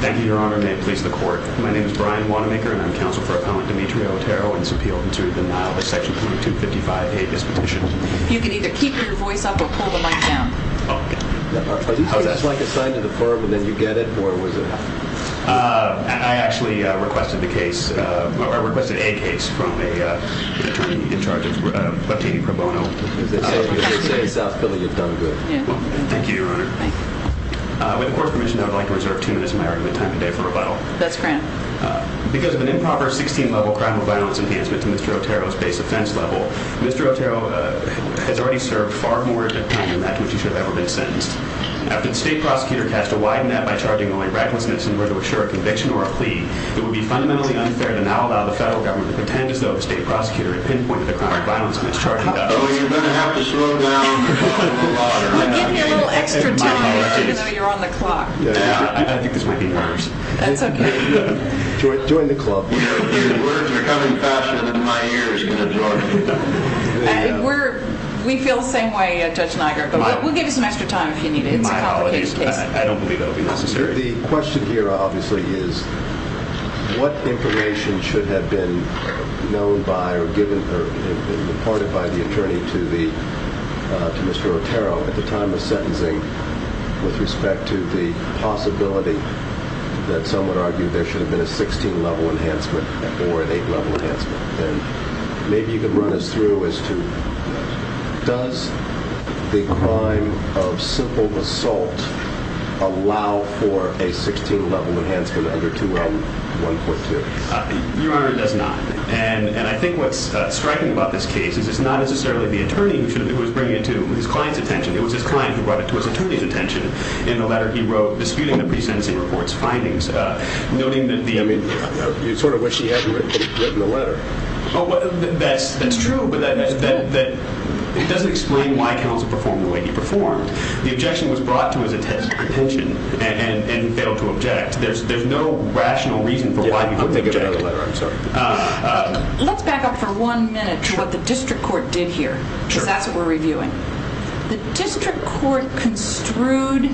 Thank you, your honor, and may it please the court. My name is Brian Wanamaker and I am counsel for Appellant Dimitri Otero in his appeal to denial of Section 255A of this petition. You can either keep your voice up or pull the mic down. Are these things like assigned to the firm and then you get it or was it? I actually requested a case from an attorney in charge of Leptini Pro Bono. As they say in South Philly, you've done good. Thank you, your honor. With the court's permission, I would like to reserve two minutes of my argument time today for rebuttal. That's grand. Because of an improper 16-level criminal violence enhancement to Mr. Otero's base offense level, Mr. Otero has already served far more time than that to which he should have ever been sentenced. After the state prosecutor cast a wide net by charging only recklessness in order to assure a conviction or a plea, it would be fundamentally unfair to now allow the federal government to pretend as though the state prosecutor had pinpointed the crime of violence mischarging. You're going to have to slow down. Give me a little extra time even though you're on the clock. I think this might be worse. That's okay. Join the club. Your words are coming faster than my ears can absorb. We feel the same way, Judge Niagara, but we'll give you some extra time if you need it. It's a complicated case. I don't believe that will be necessary. The question here, obviously, is what information should have been known by or given or reported by the attorney to Mr. Otero at the time of sentencing with respect to the possibility that someone argued there should have been a 16-level enhancement or an 8-level enhancement? Maybe you could run us through as to does the crime of simple assault allow for a 16-level enhancement under 2L142? Your Honor, it does not. And I think what's striking about this case is it's not necessarily the attorney who was bringing it to his client's attention. It was his client who brought it to his attorney's attention in the letter he wrote disputing the pre-sentencing report's findings, noting that the— You sort of wish he had written the letter. That's true, but that doesn't explain why counsel performed the way he performed. The objection was brought to his attention and he failed to object. There's no rational reason for why he wouldn't object. I'm sorry. Let's back up for one minute to what the district court did here, because that's what we're reviewing. The district court construed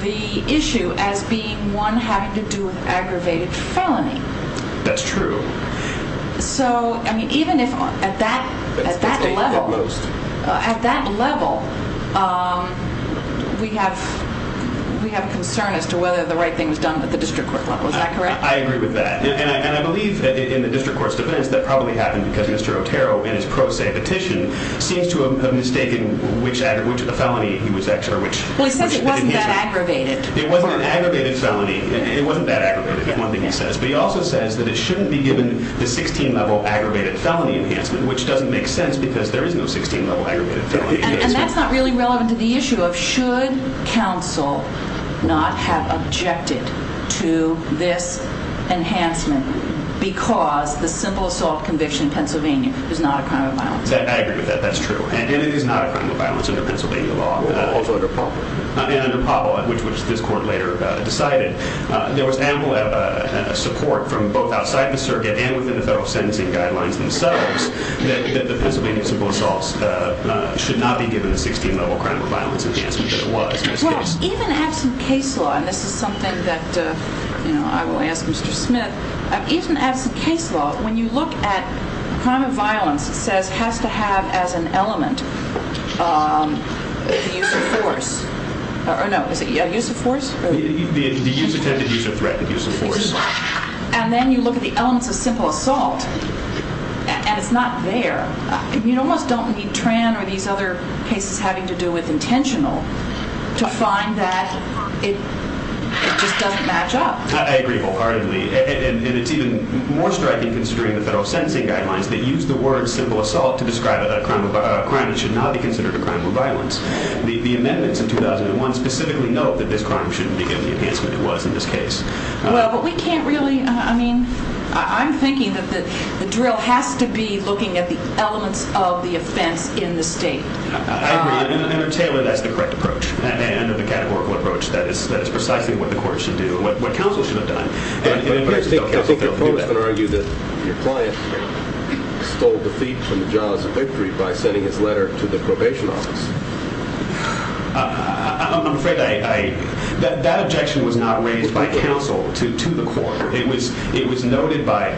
the issue as being one having to do with aggravated felony. That's true. So, I mean, even if at that level— At most. At that level, we have concern as to whether the right thing is done at the district court level. Is that correct? I agree with that. And I believe in the district court's defense that probably happened because Mr. Otero, in his pro se petition, seems to have mistaken which felony he was— Well, he says it wasn't that aggravated. It wasn't an aggravated felony. It wasn't that aggravated, is one thing he says. But he also says that it shouldn't be given the 16-level aggravated felony enhancement, which doesn't make sense because there is no 16-level aggravated felony enhancement. And that's not really relevant to the issue of should counsel not have objected to this enhancement because the simple assault conviction in Pennsylvania is not a crime of violence. I agree with that. That's true. And it is not a crime of violence under Pennsylvania law. Also under Pablo. And under Pablo, which this court later decided. There was ample support from both outside the circuit and within the federal sentencing guidelines themselves that the Pennsylvania simple assaults should not be given the 16-level crime of violence enhancement that it was in this case. Well, even absent case law—and this is something that I will ask Mr. Smith—even absent case law, when you look at crime of violence, it says has to have as an element the use of force. Or no, is it use of force? The use of force. And then you look at the elements of simple assault, and it's not there. You almost don't need Tran or these other cases having to do with intentional to find that it just doesn't match up. I agree wholeheartedly. And it's even more striking considering the federal sentencing guidelines that use the word simple assault to describe a crime that should not be considered a crime of violence. The amendments in 2001 specifically note that this crime shouldn't be given the enhancement it was in this case. Well, but we can't really—I mean, I'm thinking that the drill has to be looking at the elements of the offense in the state. I agree. And under Taylor, that's the correct approach. Under the categorical approach, that is precisely what the court should do and what counsel should have done. I think counsel can argue that your client stole defeat from the jaws of victory by sending his letter to the probation office. I'm afraid that objection was not raised by counsel to the court. It was noted by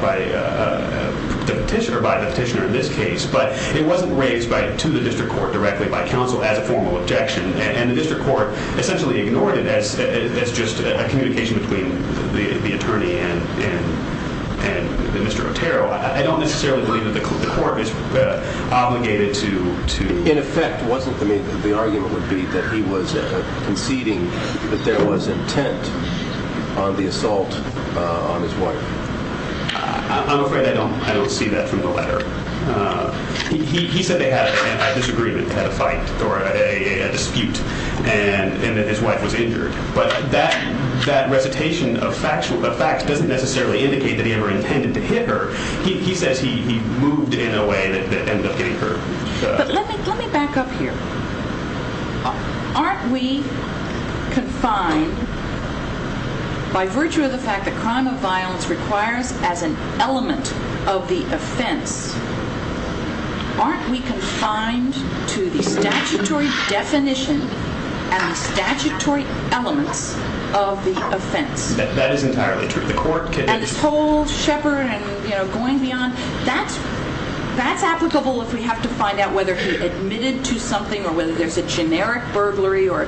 the petitioner in this case, but it wasn't raised to the district court directly by counsel as a formal objection. And the district court essentially ignored it as just a communication between the attorney and Mr. Otero. I don't necessarily believe that the court is obligated to— In effect, wasn't—I mean, the argument would be that he was conceding that there was intent on the assault on his wife. I'm afraid I don't see that from the letter. He said they had a disagreement, they had a fight or a dispute, and that his wife was injured. But that recitation of facts doesn't necessarily indicate that he ever intended to hit her. He says he moved in a way that ended up getting hurt. But let me back up here. Aren't we confined, by virtue of the fact that crime of violence requires as an element of the offense, aren't we confined to the statutory definition and the statutory elements of the offense? That is entirely true. The court can— That's applicable if we have to find out whether he admitted to something or whether there's a generic burglary or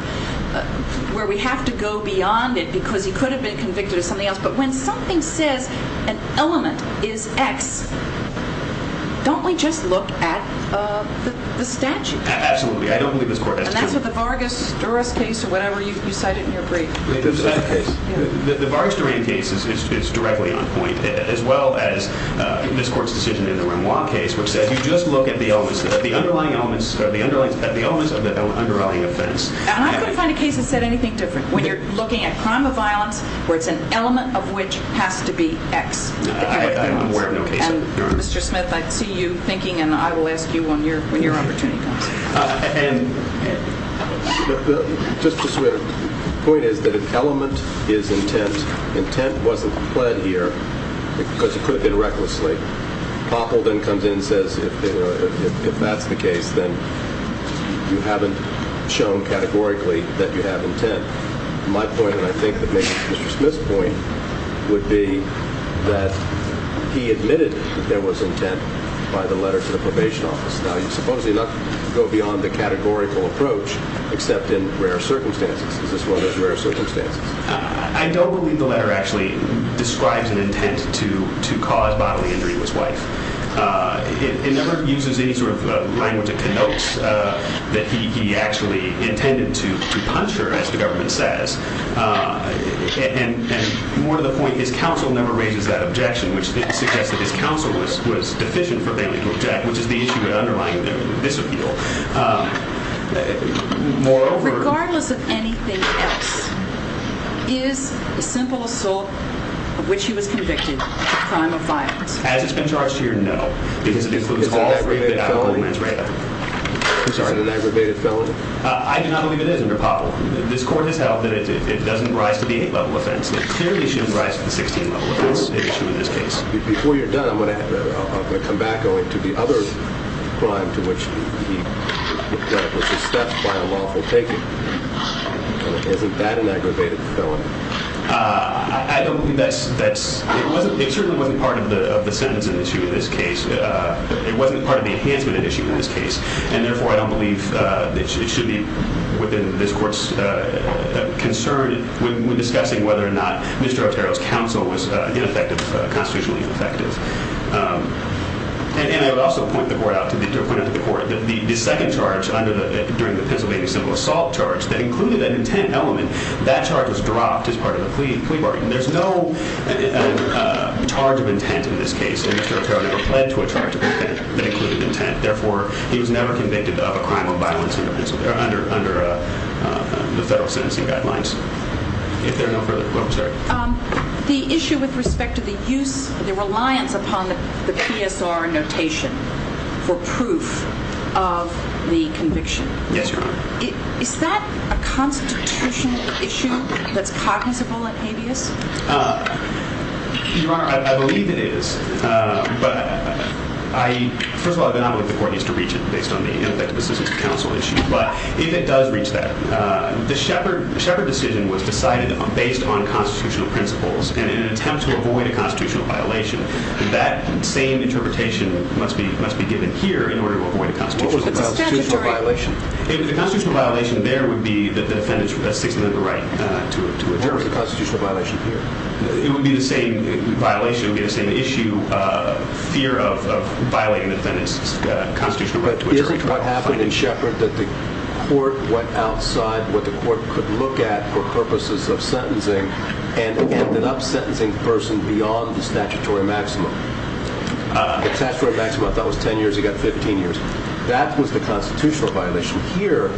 where we have to go beyond it because he could have been convicted of something else. But when something says an element is X, don't we just look at the statute? Absolutely. I don't believe this court has to do that. And that's what the Vargas-Durán case or whatever you cited in your brief. The Vargas-Durán case is directly on point as well as this court's decision in the Renoir case which says you just look at the underlying elements of the underlying offense. And I couldn't find a case that said anything different. When you're looking at crime of violence where it's an element of which has to be X. I'm aware of no case like that, Your Honor. Mr. Smith, I see you thinking and I will ask you when your opportunity comes. And just to switch, the point is that an element is intent. Intent wasn't pled here because it could have been recklessly. Poppel then comes in and says if that's the case, then you haven't shown categorically that you have intent. My point, and I think maybe Mr. Smith's point, would be that he admitted that there was intent by the letter to the probation office. Now, you supposedly don't go beyond the categorical approach except in rare circumstances. Is this one of those rare circumstances? I don't believe the letter actually describes an intent to cause bodily injury to his wife. It never uses any sort of language that connotes that he actually intended to punch her, as the government says. And more to the point, his counsel never raises that objection which suggests that his counsel was deficient for failing to object which is the issue underlying this appeal. Regardless of anything else, is the simple assault of which he was convicted a crime of violence? As it's been charged here, no. Because it includes all three of the alcohol and marijuana. Is it an aggravated felony? I do not believe it is, Mr. Poppel. This court has held that it doesn't rise to the 8th level offense. It clearly shouldn't rise to the 16th level offense issue in this case. Before you're done, I'm going to come back to the other crime to which he was assessed by a lawful taking. Isn't that an aggravated felony? It certainly wasn't part of the sentence in this case. It wasn't part of the enhancement issue in this case. And therefore, I don't believe it should be within this court's concern when discussing whether or not Mr. Otero's counsel was constitutionally ineffective. And I would also point out to the court that the second charge during the Pennsylvania simple assault charge that included an intent element, that charge was dropped as part of the plea bargain. There's no charge of intent in this case, and Mr. Otero never pled to a charge of intent that included intent. Therefore, he was never convicted of a crime of violence under the federal sentencing guidelines. If there are no further questions, I'm sorry. The issue with respect to the use, the reliance upon the PSR notation for proof of the conviction. Yes, Your Honor. Is that a constitutional issue that's cognizable in habeas? Your Honor, I believe it is. But I, first of all, I don't think the court needs to reach it based on the ineffective assistance of counsel issue. But if it does reach that, the Shepard decision was decided based on constitutional principles, and in an attempt to avoid a constitutional violation, that same interpretation must be given here in order to avoid a constitutional violation. What was the constitutional violation? The constitutional violation there would be the defendant's sixth amendment right to adjourn. What was the constitutional violation here? It would be the same violation, it would be the same issue, fear of violating the defendant's constitutional right to adjourn. But isn't what happened in Shepard that the court went outside what the court could look at for purposes of sentencing and ended up sentencing the person beyond the statutory maximum? The statutory maximum I thought was 10 years, he got 15 years. That was the constitutional violation. Here,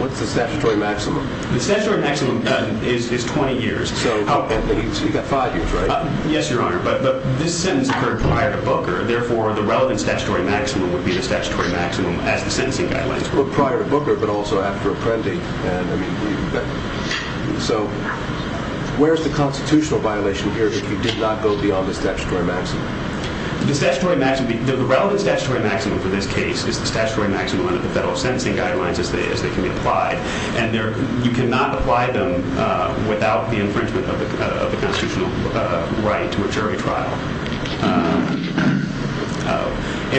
what's the statutory maximum? The statutory maximum is 20 years. So you've got five years, right? Yes, Your Honor, but this sentence occurred prior to Booker, therefore the relevant statutory maximum would be the statutory maximum as the sentencing guidelines. Well, prior to Booker, but also after Apprendi. So where's the constitutional violation here if you did not go beyond the statutory maximum? The statutory maximum, the relevant statutory maximum for this case is the statutory maximum under the federal sentencing guidelines as they can be applied. And you cannot apply them without the infringement of the constitutional right to a jury trial.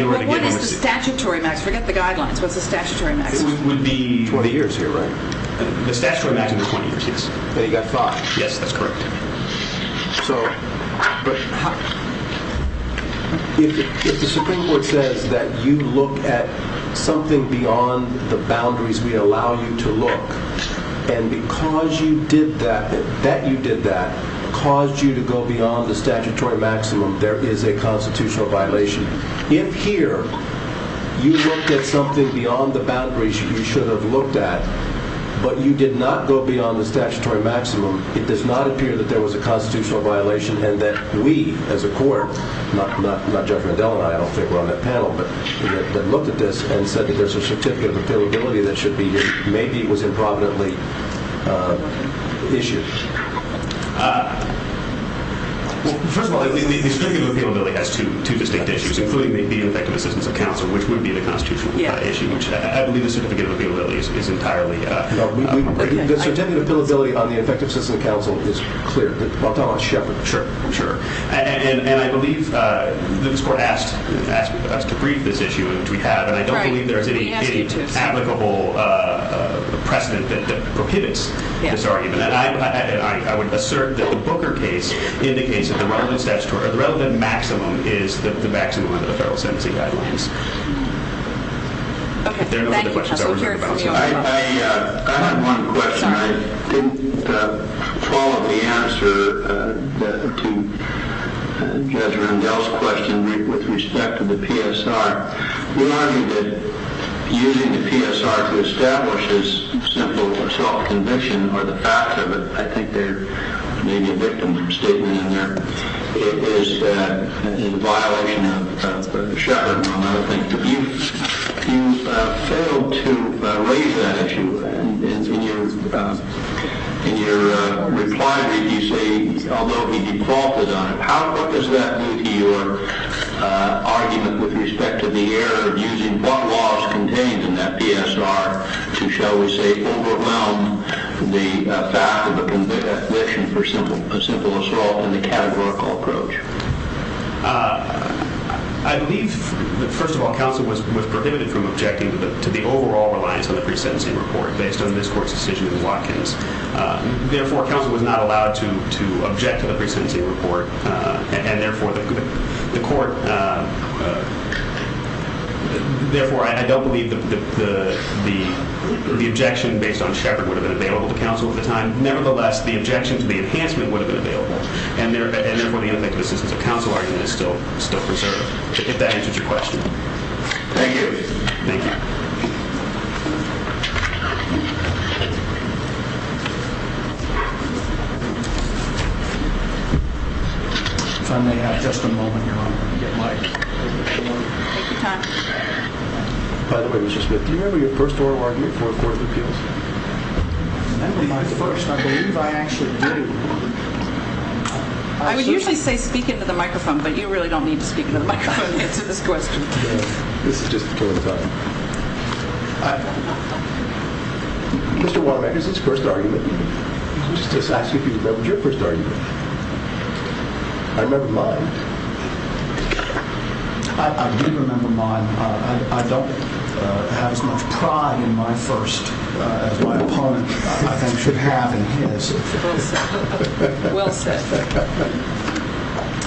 But what is the statutory maximum? Forget the guidelines, what's the statutory maximum? It would be 20 years here, right? The statutory maximum is 20 years, yes. But he got five. Yes, that's correct. So if the Supreme Court says that you look at something beyond the boundaries we allow you to look, and because you did that, that you did that, caused you to go beyond the statutory maximum, there is a constitutional violation. If here, you looked at something beyond the boundaries you should have looked at, but you did not go beyond the statutory maximum, it does not appear that there was a constitutional violation and that we, as a court, not Jeffrey Mandel and I, I don't think we're on that panel, but that looked at this and said that there's a certificate of appealability that should be here. Maybe it was improvidently issued. Well, first of all, the certificate of appealability has two distinct issues, including the effective assistance of counsel, which would be the constitutional issue. I believe the certificate of appealability is entirely appropriate. The certificate of appealability on the effective assistance of counsel is clear. I'm talking about Sheppard. Sure, I'm sure. And I believe that this court asked us to brief this issue, which we have, and I don't believe there is any applicable precedent that prohibits this argument. And I would assert that the Booker case indicates that the relevant statutory, the relevant maximum is the maximum under the federal sentencing guidelines. Okay. Thank you, counsel. I have one question. I didn't follow the answer to Jeffrey Mandel's question with respect to the PSR. You argued that using the PSR to establish this simple self-conviction or the fact of it, I think there may be a victim statement in there. It is in violation of Sheppard. And I would think that you failed to raise that issue. And in your reply, did you say, although he defaulted on it, how appropriate is that with your argument with respect to the error of using what laws contained in that PSR to, shall we say, overwhelm the fact of a conviction for simple assault in the categorical approach? I believe, first of all, counsel was prohibited from objecting to the overall reliance on the pre-sentencing report based on this court's decision in Watkins. Therefore, counsel was not allowed to object to the pre-sentencing report, and therefore I don't believe the objection based on Sheppard would have been available to counsel at the time. Nevertheless, the objection to the enhancement would have been available, and therefore the ineffective assistance of counsel argument is still preserved, if that answers your question. Thank you. Thank you. If I may have just a moment, Your Honor, to get Mike. Take your time. By the way, Mr. Smith, do you remember your first oral argument for the Fourth Appeals? I remember mine first. I believe I actually did. I would usually say speak into the microphone, but you really don't need to speak into the microphone to answer this question. This is just a killing time. Mr. Waterman, is this your first argument? I'm just asking if you remember your first argument. I remember mine. I do remember mine. I don't have as much pride in my first as my opponent, I think, should have in his. Well said.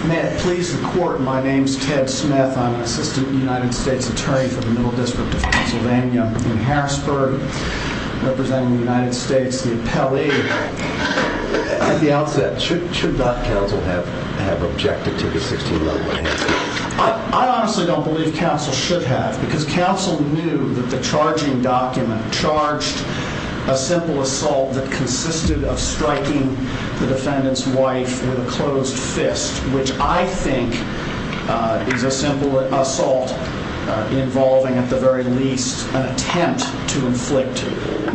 May it please the Court, my name is Ted Smith. I'm an assistant United States attorney for the Middle District of Pennsylvania in Harrisburg, representing the United States, the appellee. At the outset, should not counsel have objected to the 16-level enhancement? I honestly don't believe counsel should have, because counsel knew that the charging document charged a simple assault that consisted of striking the defendant's wife with a closed fist, which I think is a simple assault involving at the very least an attempt to inflict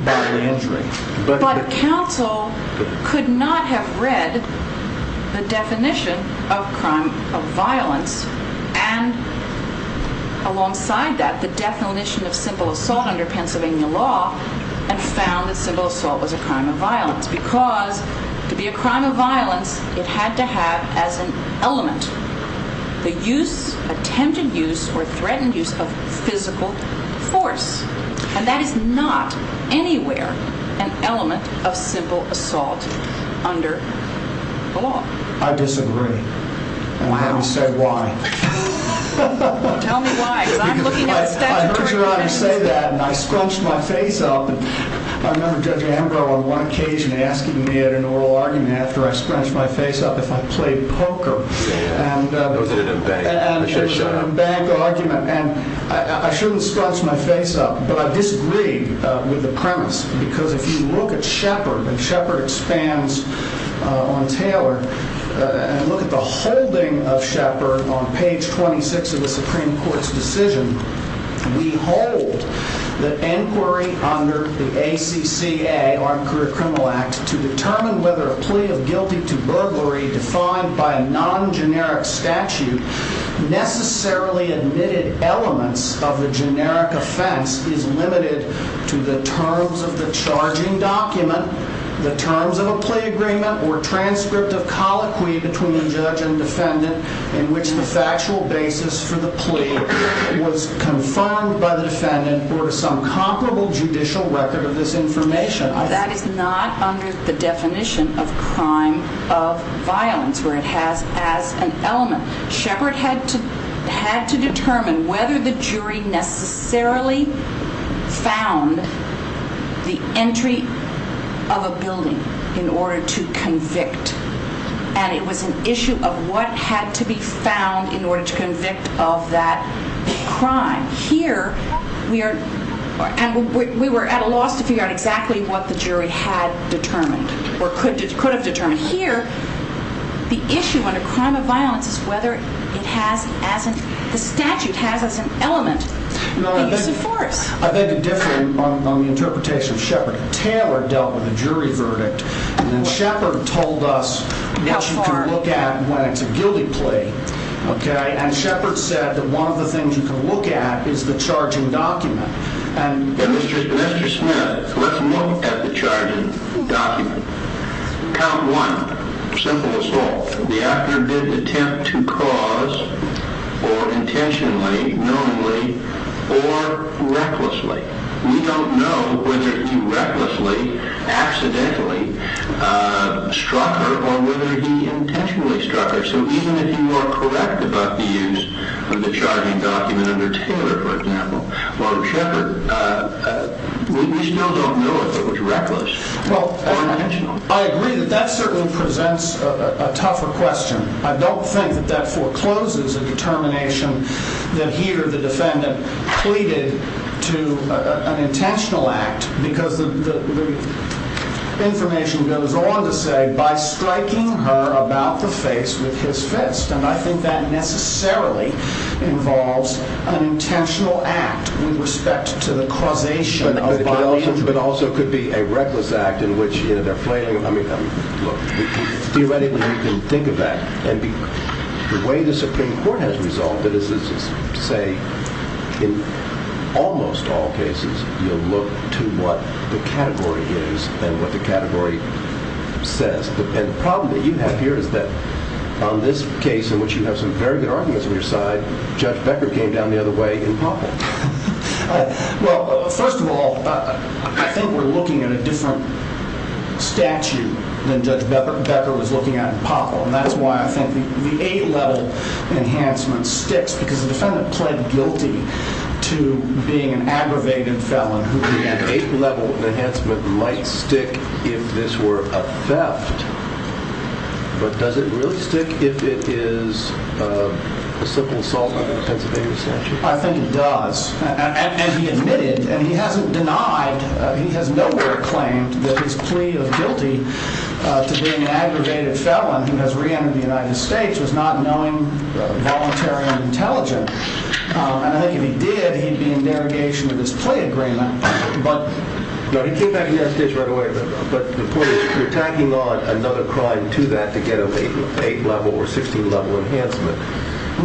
bodily injury. But counsel could not have read the definition of crime of violence, and alongside that, the definition of simple assault under Pennsylvania law, and found that simple assault was a crime of violence, because to be a crime of violence, it had to have as an element the use, attempted use, or threatened use of physical force. And that is not anywhere an element of simple assault under the law. I disagree, and I'm going to have to say why. Tell me why, because I'm looking at the statute. I heard your Honor say that, and I scrunched my face up. I remember Judge Ambrose on one occasion asking me at an oral argument after I scrunched my face up if I played poker. And I shouldn't have scrunched my face up, but I disagreed with the premise, because if you look at Shepard, and Shepard expands on Taylor, and look at the holding of Shepard on page 26 of the Supreme Court's decision, we hold that inquiry under the ACCA, Armed Career Criminal Act, to determine whether a plea of guilty to burglary defined by a non-generic statute necessarily admitted elements of the generic offense is limited to the terms of the charging document, the terms of a plea agreement, or transcript of colloquy between the judge and defendant in which the factual basis for the plea was confirmed by the defendant or to some comparable judicial record of this information. That is not under the definition of crime of violence, where it has as an element. Shepard had to determine whether the jury necessarily found the entry of a building in order to convict, and it was an issue of what had to be found in order to convict of that crime. Here, we were at a loss to figure out exactly what the jury had determined or could have determined. Here, the issue under crime of violence is whether the statute has as an element the use of force. I think it differed on the interpretation of Shepard. Taylor dealt with a jury verdict, and then Shepard told us what you can look at when it's a guilty plea, and Shepard said that one of the things you can look at is the charging document. Mr. Smith, let's look at the charging document. Count one. Simple as that. The actor did attempt to cause, or intentionally, knowingly, or recklessly. We don't know whether he recklessly, accidentally struck her or whether he intentionally struck her. So even if you are correct about the use of the charging document under Taylor, for example, while in Shepard, we still don't know if it was reckless or intentional. I agree that that certainly presents a tougher question. I don't think that that forecloses a determination that he or the defendant pleaded to an intentional act because the information goes on to say, by striking her about the face with his fist, and I think that necessarily involves an intentional act with respect to the causation of violence. But also it could be a reckless act in which, you know, they're flailing, I mean, look, theoretically you can think of that, and the way the Supreme Court has resolved it is to say, in almost all cases, you'll look to what the category is and what the category says. And the problem that you have here is that on this case, in which you have some very good arguments on your side, Judge Becker came down the other way in Poppel. Well, first of all, I think we're looking at a different statute than Judge Becker was looking at in Poppel, and that's why I think the A-level enhancement sticks, because the defendant pled guilty to being an aggravated felon. The A-level enhancement might stick if this were a theft, but does it really stick if it is a simple assault under the Pennsylvania statute? I think it does, and he admitted, and he hasn't denied, he has nowhere claimed that his plea of guilty to being an aggravated felon, who has re-entered the United States, was not knowing, voluntary, and intelligent. And I think if he did, he'd be in derogation of his plea agreement. No, he came back in the United States right away, but you're tacking on another crime to that to get an A-level or 16-level enhancement.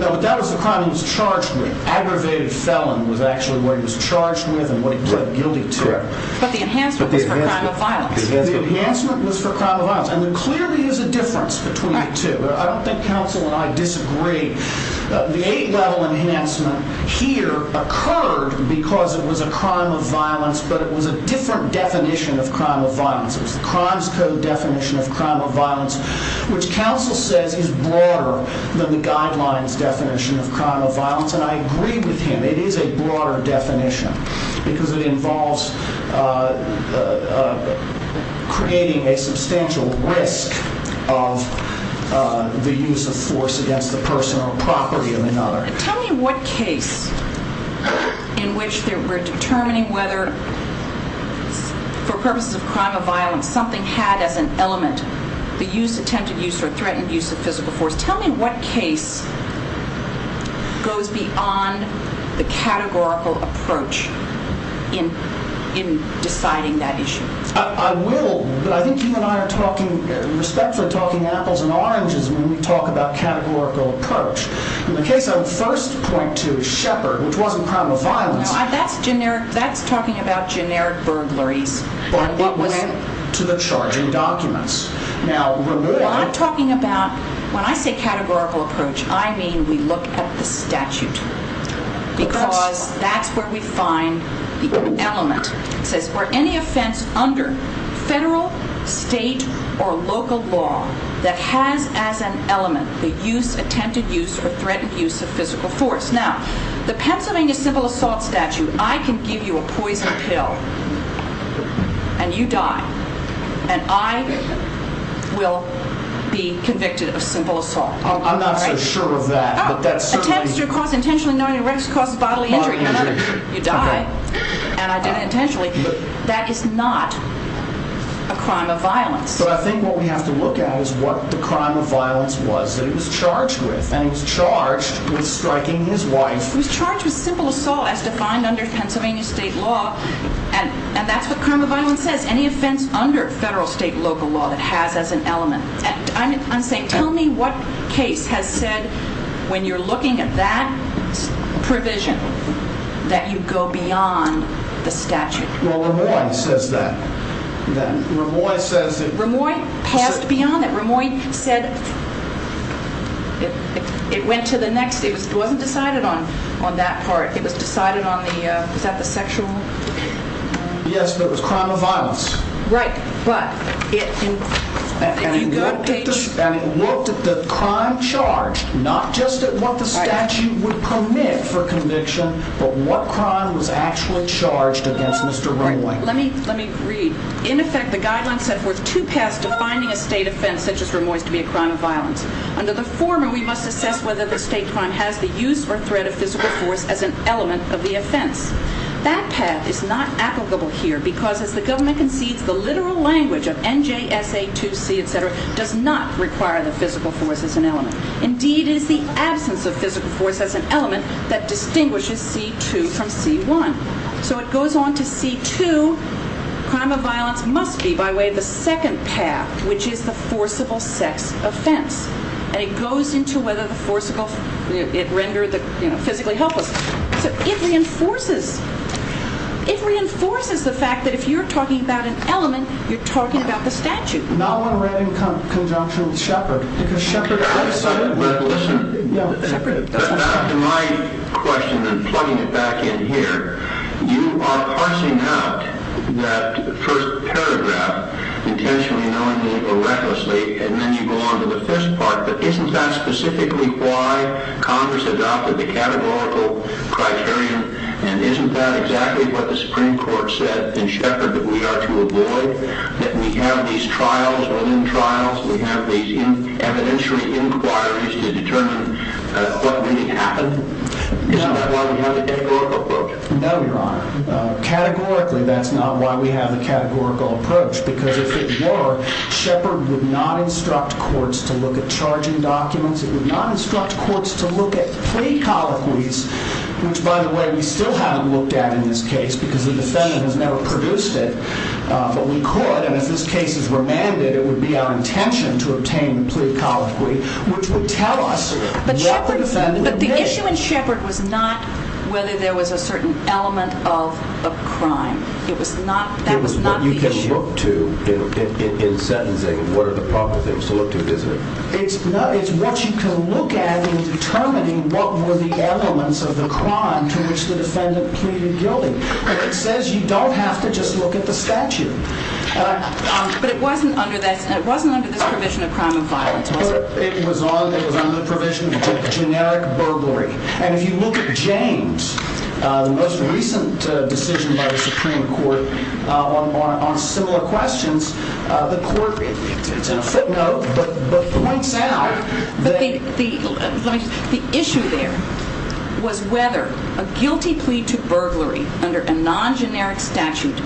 No, that was the crime he was charged with. Aggravated felon was actually what he was charged with and what he pled guilty to. Correct. But the enhancement was for crime of violence. The enhancement was for crime of violence, and there clearly is a difference between the two. I don't think counsel and I disagree. The A-level enhancement here occurred because it was a crime of violence, but it was a different definition of crime of violence. It was the Crimes Code definition of crime of violence, which counsel says is broader than the guidelines definition of crime of violence, and I agree with him. It is a broader definition because it involves creating a substantial risk of the use of force against the personal property of another. Tell me what case in which they were determining whether, for purposes of crime of violence, something had as an element the use, attempted use, or threatened use of physical force. Tell me what case goes beyond the categorical approach in deciding that issue. I will, but I think you and I are talking, respectfully talking apples and oranges when we talk about categorical approach. In the case I would first point to is Shepard, which wasn't crime of violence. That's talking about generic burglaries. But it was to the charging documents. When I say categorical approach, I mean we look at the statute because that's where we find the element. It says were any offense under federal, state, or local law that has as an element the use, attempted use, or threatened use of physical force. Now, the Pennsylvania civil assault statute, I can give you a poison pill and you die. And I will be convicted of simple assault. I'm not so sure of that. Attempts to cause intentionally known arrest cause bodily injury. You die, and I did it intentionally. That is not a crime of violence. But I think what we have to look at is what the crime of violence was that he was charged with. And he was charged with striking his wife. He was charged with simple assault as defined under Pennsylvania state law. And that's what crime of violence says. Any offense under federal, state, local law that has as an element. And I'm saying tell me what case has said when you're looking at that provision that you go beyond the statute. Well, Ramoy says that. Ramoy says that. Ramoy passed beyond that. Ramoy said it went to the next. It wasn't decided on that part. It was decided on the, is that the sexual? Yes, but it was crime of violence. Right, but. And it looked at the crime charged. Not just at what the statute would permit for conviction, but what crime was actually charged against Mr. Ramoy. Let me read. In effect, the guidelines set forth two paths to finding a state offense such as Ramoy's to be a crime of violence. Under the former, we must assess whether the state crime has the use or threat of physical force as an element of the offense. That path is not applicable here because as the government concedes, the literal language of NJSA 2C, et cetera, does not require the physical force as an element. Indeed, it is the absence of physical force as an element that distinguishes C2 from C1. So it goes on to C2, crime of violence must be by way of the second path, which is the forcible sex offense. And it goes into whether the forcible, it rendered the, you know, physically helpless. So it reinforces, it reinforces the fact that if you're talking about an element, you're talking about the statute. Not one read in conjunction with Shepard, because Shepard. Listen to my question and plugging it back in here. You are parsing out that first paragraph intentionally knowingly or recklessly, and then you go on to the first part. But isn't that specifically why Congress adopted the categorical criterion? And isn't that exactly what the Supreme Court said in Shepard that we are to avoid? That we have these trials within trials? We have these evidentiary inquiries to determine what may happen? Isn't that why we have the categorical approach? No, Your Honor. Categorically, that's not why we have the categorical approach. Because if it were, Shepard would not instruct courts to look at charging documents. It would not instruct courts to look at plea colloquies, which, by the way, we still haven't looked at in this case because the defendant has never produced it. But we could, and if this case is remanded, it would be our intention to obtain the plea colloquy, which would tell us what the defendant did. But the issue in Shepard was not whether there was a certain element of a crime. That was not the issue. It was what you can look to in sentencing and what are the proper things to look to, isn't it? It's what you can look at in determining what were the elements of the crime to which the defendant pleaded guilty. But it says you don't have to just look at the statute. But it wasn't under this provision of crime of violence, was it? It was under the provision of generic burglary. And if you look at James, the most recent decision by the Supreme Court on similar questions, the court, it's in a footnote, but points out that the issue there was whether a guilty plea to burglary, under a non-generic statute,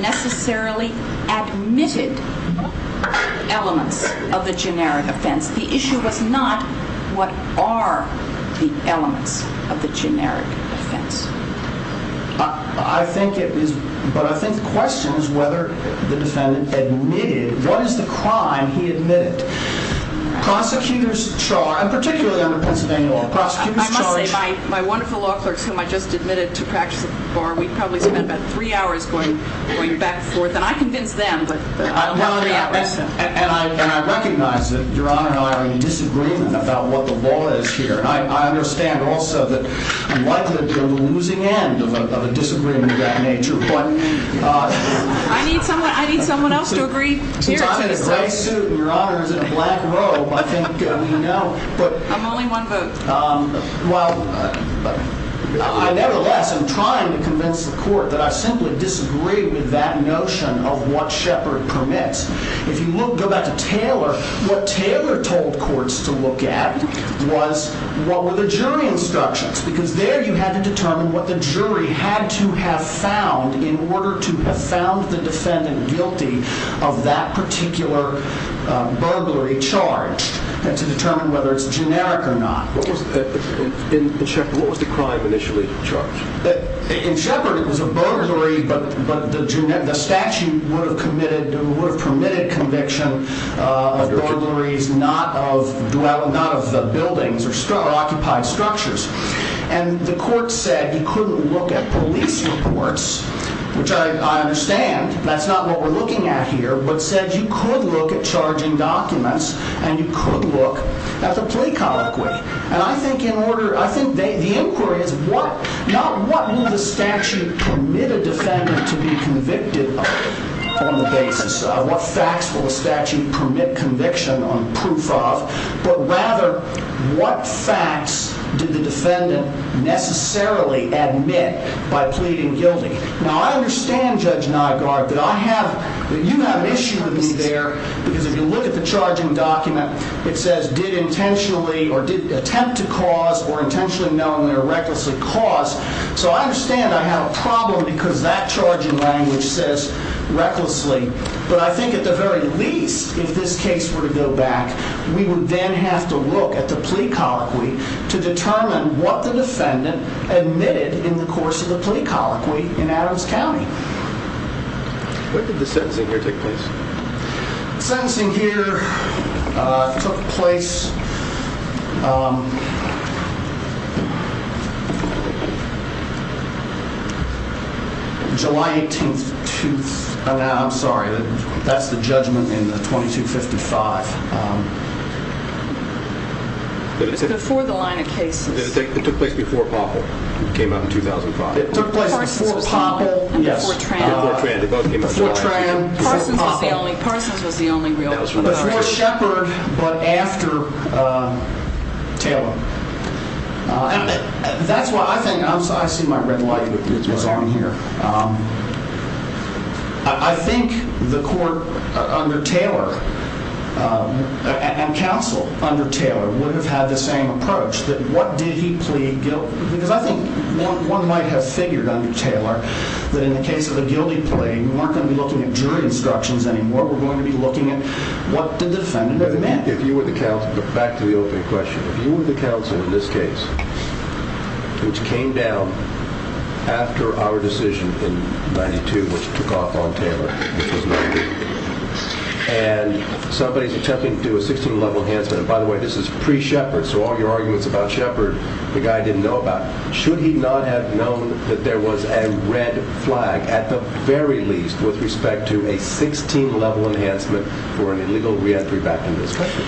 necessarily admitted elements of the generic offense. The issue was not what are the elements of the generic offense. I think it is, but I think the question is whether the defendant admitted, what is the crime he admitted? Prosecutors charge, and particularly under Pennsylvania law, prosecutors charge. I must say, my wonderful law clerks, whom I just admitted to practice at the bar, we probably spent about three hours going back and forth. And I convinced them, but I don't have three hours. And I recognize that Your Honor and I are in disagreement about what the law is here. And I understand also that I'm likely to be on the losing end of a disagreement of that nature. I need someone else to agree here. I'm in a gray suit and Your Honor is in a black robe. I think we know. I'm only one vote. Well, nevertheless, I'm trying to convince the court that I simply disagree with that notion of what Shepard permits. If you go back to Taylor, what Taylor told courts to look at was what were the jury instructions. Because there you had to determine what the jury had to have found in order to have found the defendant guilty of that particular burglary charge. And to determine whether it's generic or not. In Shepard, what was the crime initially charged? In Shepard, it was a burglary, but the statute would have permitted conviction of burglaries not of the buildings or occupied structures. And the court said you couldn't look at police reports, which I understand. That's not what we're looking at here, but said you could look at charging documents and you could look at the plea colloquy. And I think the inquiry is not what will the statute permit a defendant to be convicted of on the basis of what facts will the statute permit conviction on proof of, but rather what facts did the defendant necessarily admit by pleading guilty. Now, I understand, Judge Nygaard, that you have an issue with me there. Because if you look at the charging document, it says did intentionally or did attempt to cause or intentionally knowingly or recklessly cause. So I understand I have a problem because that charging language says recklessly. But I think at the very least, if this case were to go back, we would then have to look at the plea colloquy to determine what the defendant admitted in the course of the plea colloquy in Adams County. Where did the sentencing here take place? Sentencing here took place July 18th. I'm sorry. That's the judgment in the 2255. It's before the line of cases. It took place before Poppel came out in 2005. Parsons was the only realtor. Before Shepherd, but after Taylor. And that's why I think, I see my red light was on here. I think the court under Taylor and counsel under Taylor would have had the same approach. That what did he plead guilty? Because I think one might have figured under Taylor that in the case of the guilty plea, we weren't going to be looking at jury instructions anymore. We're going to be looking at what did the defendant admit? If you were the counsel, but back to the opening question. If you were the counsel in this case, which came down after our decision in 92, which took off on Taylor, and somebody is attempting to do a 16 level enhancement. And by the way, this is pre Shepherd. So all your arguments about Shepherd, the guy didn't know about. Should he not have known that there was a red flag at the very least with respect to a 16 level enhancement for an illegal re-entry back into this country?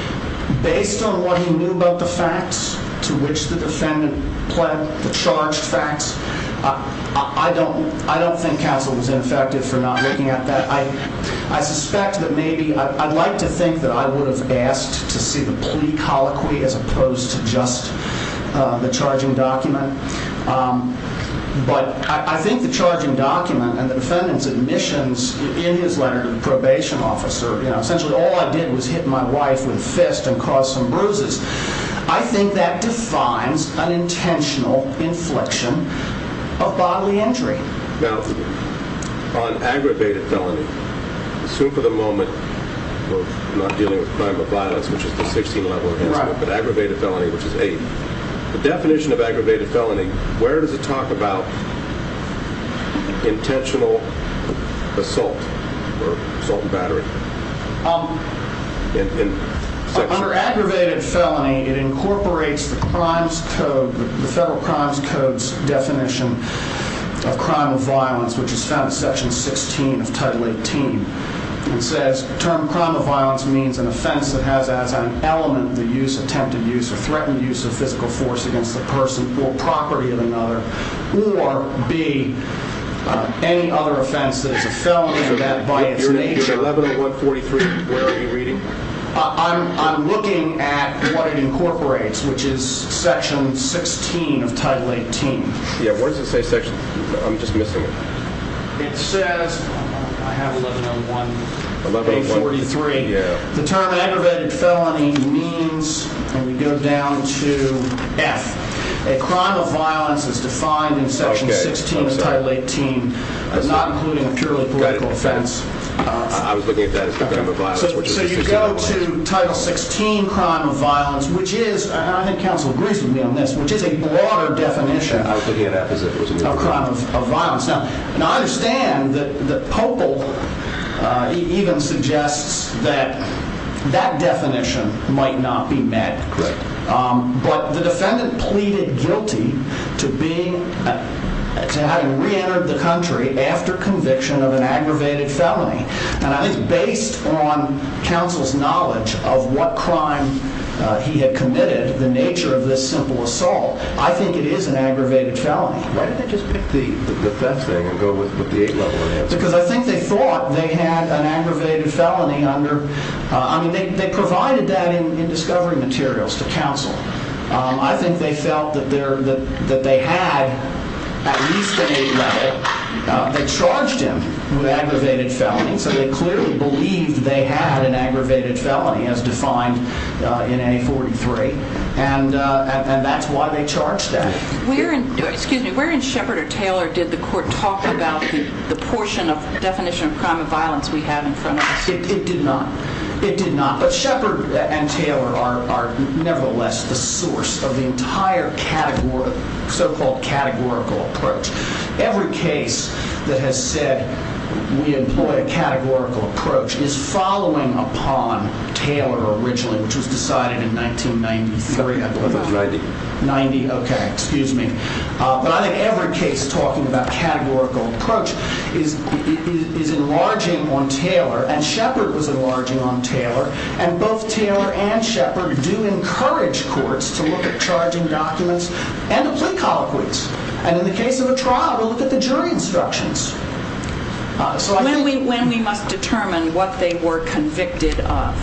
Based on what he knew about the facts to which the defendant pled the charged facts. I don't, I don't think counsel was ineffective for not looking at that. I suspect that maybe I'd like to think that I would have asked to see the plea colloquy as opposed to just the charging document. But I think the charging document and the defendant's admissions in his letter to the probation officer, essentially all I did was hit my wife with a fist and cause some bruises. I think that defines an intentional inflection of bodily injury. Now, on aggravated felony, assume for the moment we're not dealing with crime of violence, which is the 16 level enhancement, but aggravated felony, which is 8. The definition of aggravated felony, where does it talk about intentional assault or assault and battery? Under aggravated felony, it incorporates the federal crimes code's definition of crime of violence, which is found in section 16 of title 18. It says, the term crime of violence means an offense that has as an element the use, attempted use, or threatened use of physical force against the person or property of another, or B, any other offense that is a felony of that biased nature. 110143, where are you reading? I'm looking at what it incorporates, which is section 16 of title 18. Yeah, where does it say section, I'm just missing it. It says, I have 110143, the term aggravated felony means, and we go down to F, a crime of violence is defined in section 16 of title 18, but not including a purely political offense. I was looking at that as a crime of violence. So you go to title 16, crime of violence, which is, and I think counsel agrees with me on this, which is a broader definition of crime of violence. Now, I understand that Popal even suggests that that definition might not be met. Correct. But the defendant pleaded guilty to having reentered the country after conviction of an aggravated felony. And I think based on counsel's knowledge of what crime he had committed, the nature of this simple assault, I think it is an aggravated felony. Why didn't they just pick the F thing and go with the 8-level answer? Because I think they thought they had an aggravated felony under, I mean, they provided that in discovery materials to counsel. I think they felt that they had at least an 8-level. They charged him with aggravated felony, so they clearly believed they had an aggravated felony as defined in A43. And that's why they charged them. Excuse me. Where in Shepard or Taylor did the court talk about the portion of definition of crime of violence we have in front of us? It did not. It did not. But Shepard and Taylor are nevertheless the source of the entire so-called categorical approach. Every case that has said we employ a categorical approach is following upon Taylor originally, which was decided in 1993, I believe. 1990. 1990. Okay. Excuse me. But I think every case talking about categorical approach is enlarging on Taylor, and Shepard was enlarging on Taylor. And both Taylor and Shepard do encourage courts to look at charging documents and the plea colloquies. And in the case of a trial, we'll look at the jury instructions. When we must determine what they were convicted of.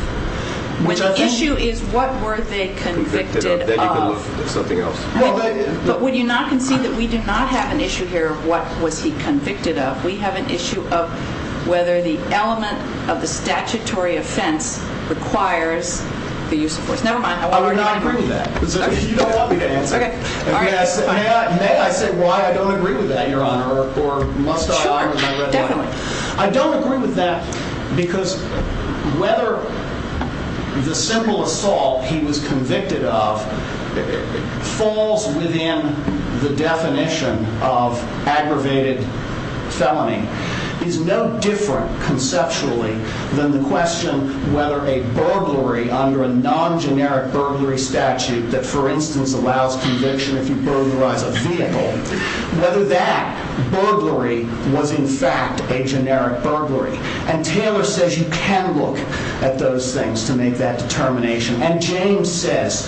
When the issue is what were they convicted of. Then you can look for something else. But would you not concede that we do not have an issue here of what was he convicted of. We have an issue of whether the element of the statutory offense requires the use of force. Never mind. I would not agree with that. You don't want me to answer. Okay. May I say why I don't agree with that, Your Honor, or must I? Sure. Definitely. I don't agree with that because whether the simple assault he was convicted of falls within the definition of aggravated felony is no different conceptually than the question whether a burglary under a non-generic burglary statute that, for instance, allows conviction if you're convicted of a felony. Whether that burglary was, in fact, a generic burglary. And Taylor says you can look at those things to make that determination. And James says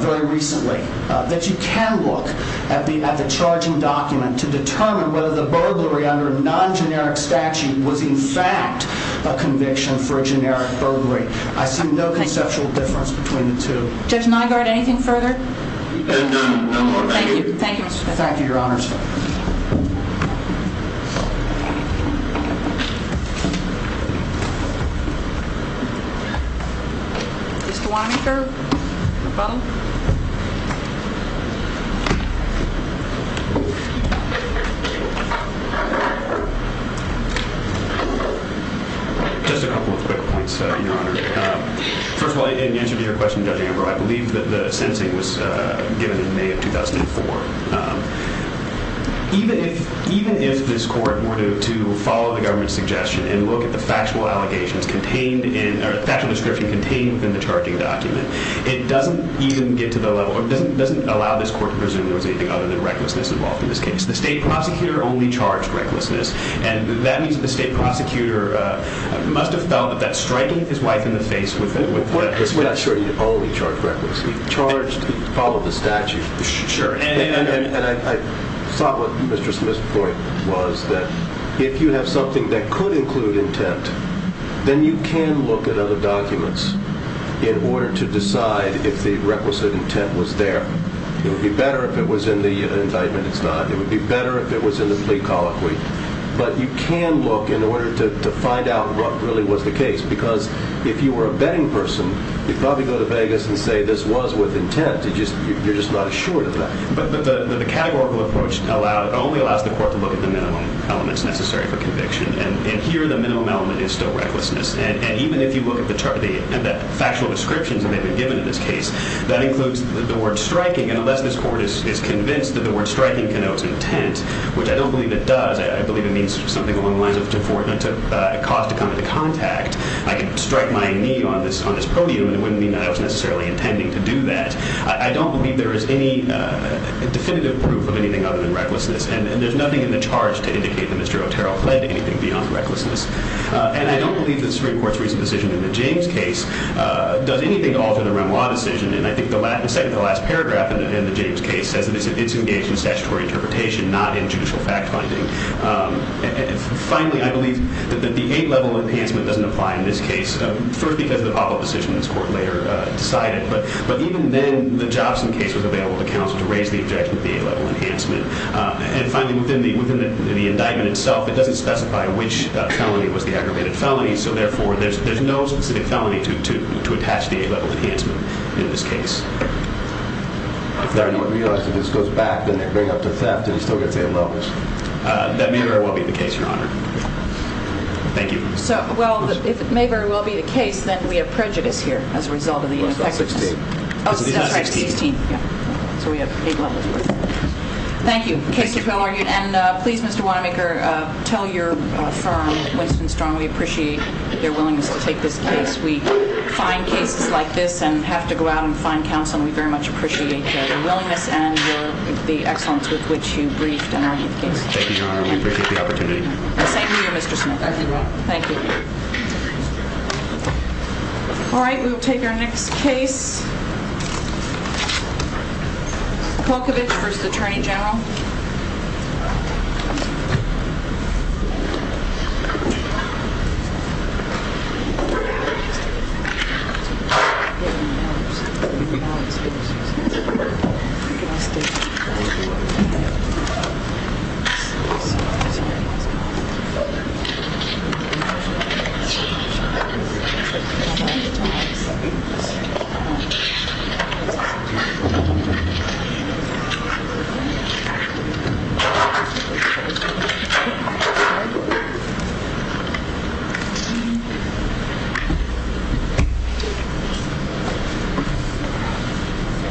very recently that you can look at the charging document to determine whether the burglary under a non-generic statute was, in fact, a conviction for a generic burglary. I see no conceptual difference between the two. Judge Nygaard, anything further? No. Thank you. Thank you, Mr. Judge. Thank you, Your Honors. Mr. Weinecker, the button. Just a couple of quick points, Your Honor. First of all, in answer to your question, Judge Amber, I believe that the sentencing was given in May of 2004. Even if this court were to follow the government's suggestion and look at the factual allegations contained in or factual description contained within the charging document, it doesn't even get to the level or doesn't allow this court to presume there was anything other than recklessness involved in this case. The State Prosecutor only charged recklessness. And that means that the State Prosecutor must have felt that that striking his wife in the face with the statute. We're not sure he only charged recklessness. He charged, followed the statute. Sure. And I thought what Mr. Smith's point was that if you have something that could include intent, then you can look at other documents in order to decide if the requisite intent was there. It would be better if it was in the indictment. It's not. It would be better if it was in the plea colloquy. But you can look in order to find out what really was the case. Because if you were a betting person, you'd probably go to Vegas and say this was with intent. You're just not assured of that. But the categorical approach only allows the court to look at the minimum elements necessary for conviction. And here the minimum element is still recklessness. And even if you look at the factual descriptions that have been given in this case, that includes the word striking. And unless this court is convinced that the word striking connotes intent, which I don't believe it does. I believe it means something along the lines of to cause to come into contact. I can strike my knee on this podium and it wouldn't mean that I was necessarily intending to do that. I don't believe there is any definitive proof of anything other than recklessness. And there's nothing in the charge to indicate that Mr. Otero pled anything beyond recklessness. And I don't believe that the Supreme Court's recent decision in the James case does anything to alter the Wren Law decision. And I think the second to last paragraph in the James case says that it's engaged in statutory interpretation, not in judicial fact-finding. Finally, I believe that the A-level enhancement doesn't apply in this case. First, because of the pop-up decision this court later decided. But even then, the Jobson case was available to counsel to raise the objection of the A-level enhancement. And finally, within the indictment itself, it doesn't specify which felony was the aggravated felony. So therefore, there's no specific felony to attach the A-level enhancement in this case. If they're not realized, if this goes back, then they bring up the theft and still get the A-levels. That may very well be the case, Your Honor. Thank you. Well, if it may very well be the case, then we have prejudice here as a result of the effectiveness. Sixteen. Oh, that's right, sixteen. So we have eight levels worth. Thank you. Case is well argued. And please, Mr. Wanamaker, tell your firm, Winston Strong, we appreciate their willingness to take this case. We find cases like this and have to go out and find counsel. And we very much appreciate their willingness and the excellence with which you briefed and argued the case. Thank you, Your Honor. We appreciate the opportunity. The same to you, Mr. Smith. Thank you, Your Honor. Thank you. All right. We will take our next case. Milkovich v. Attorney General. Thank you.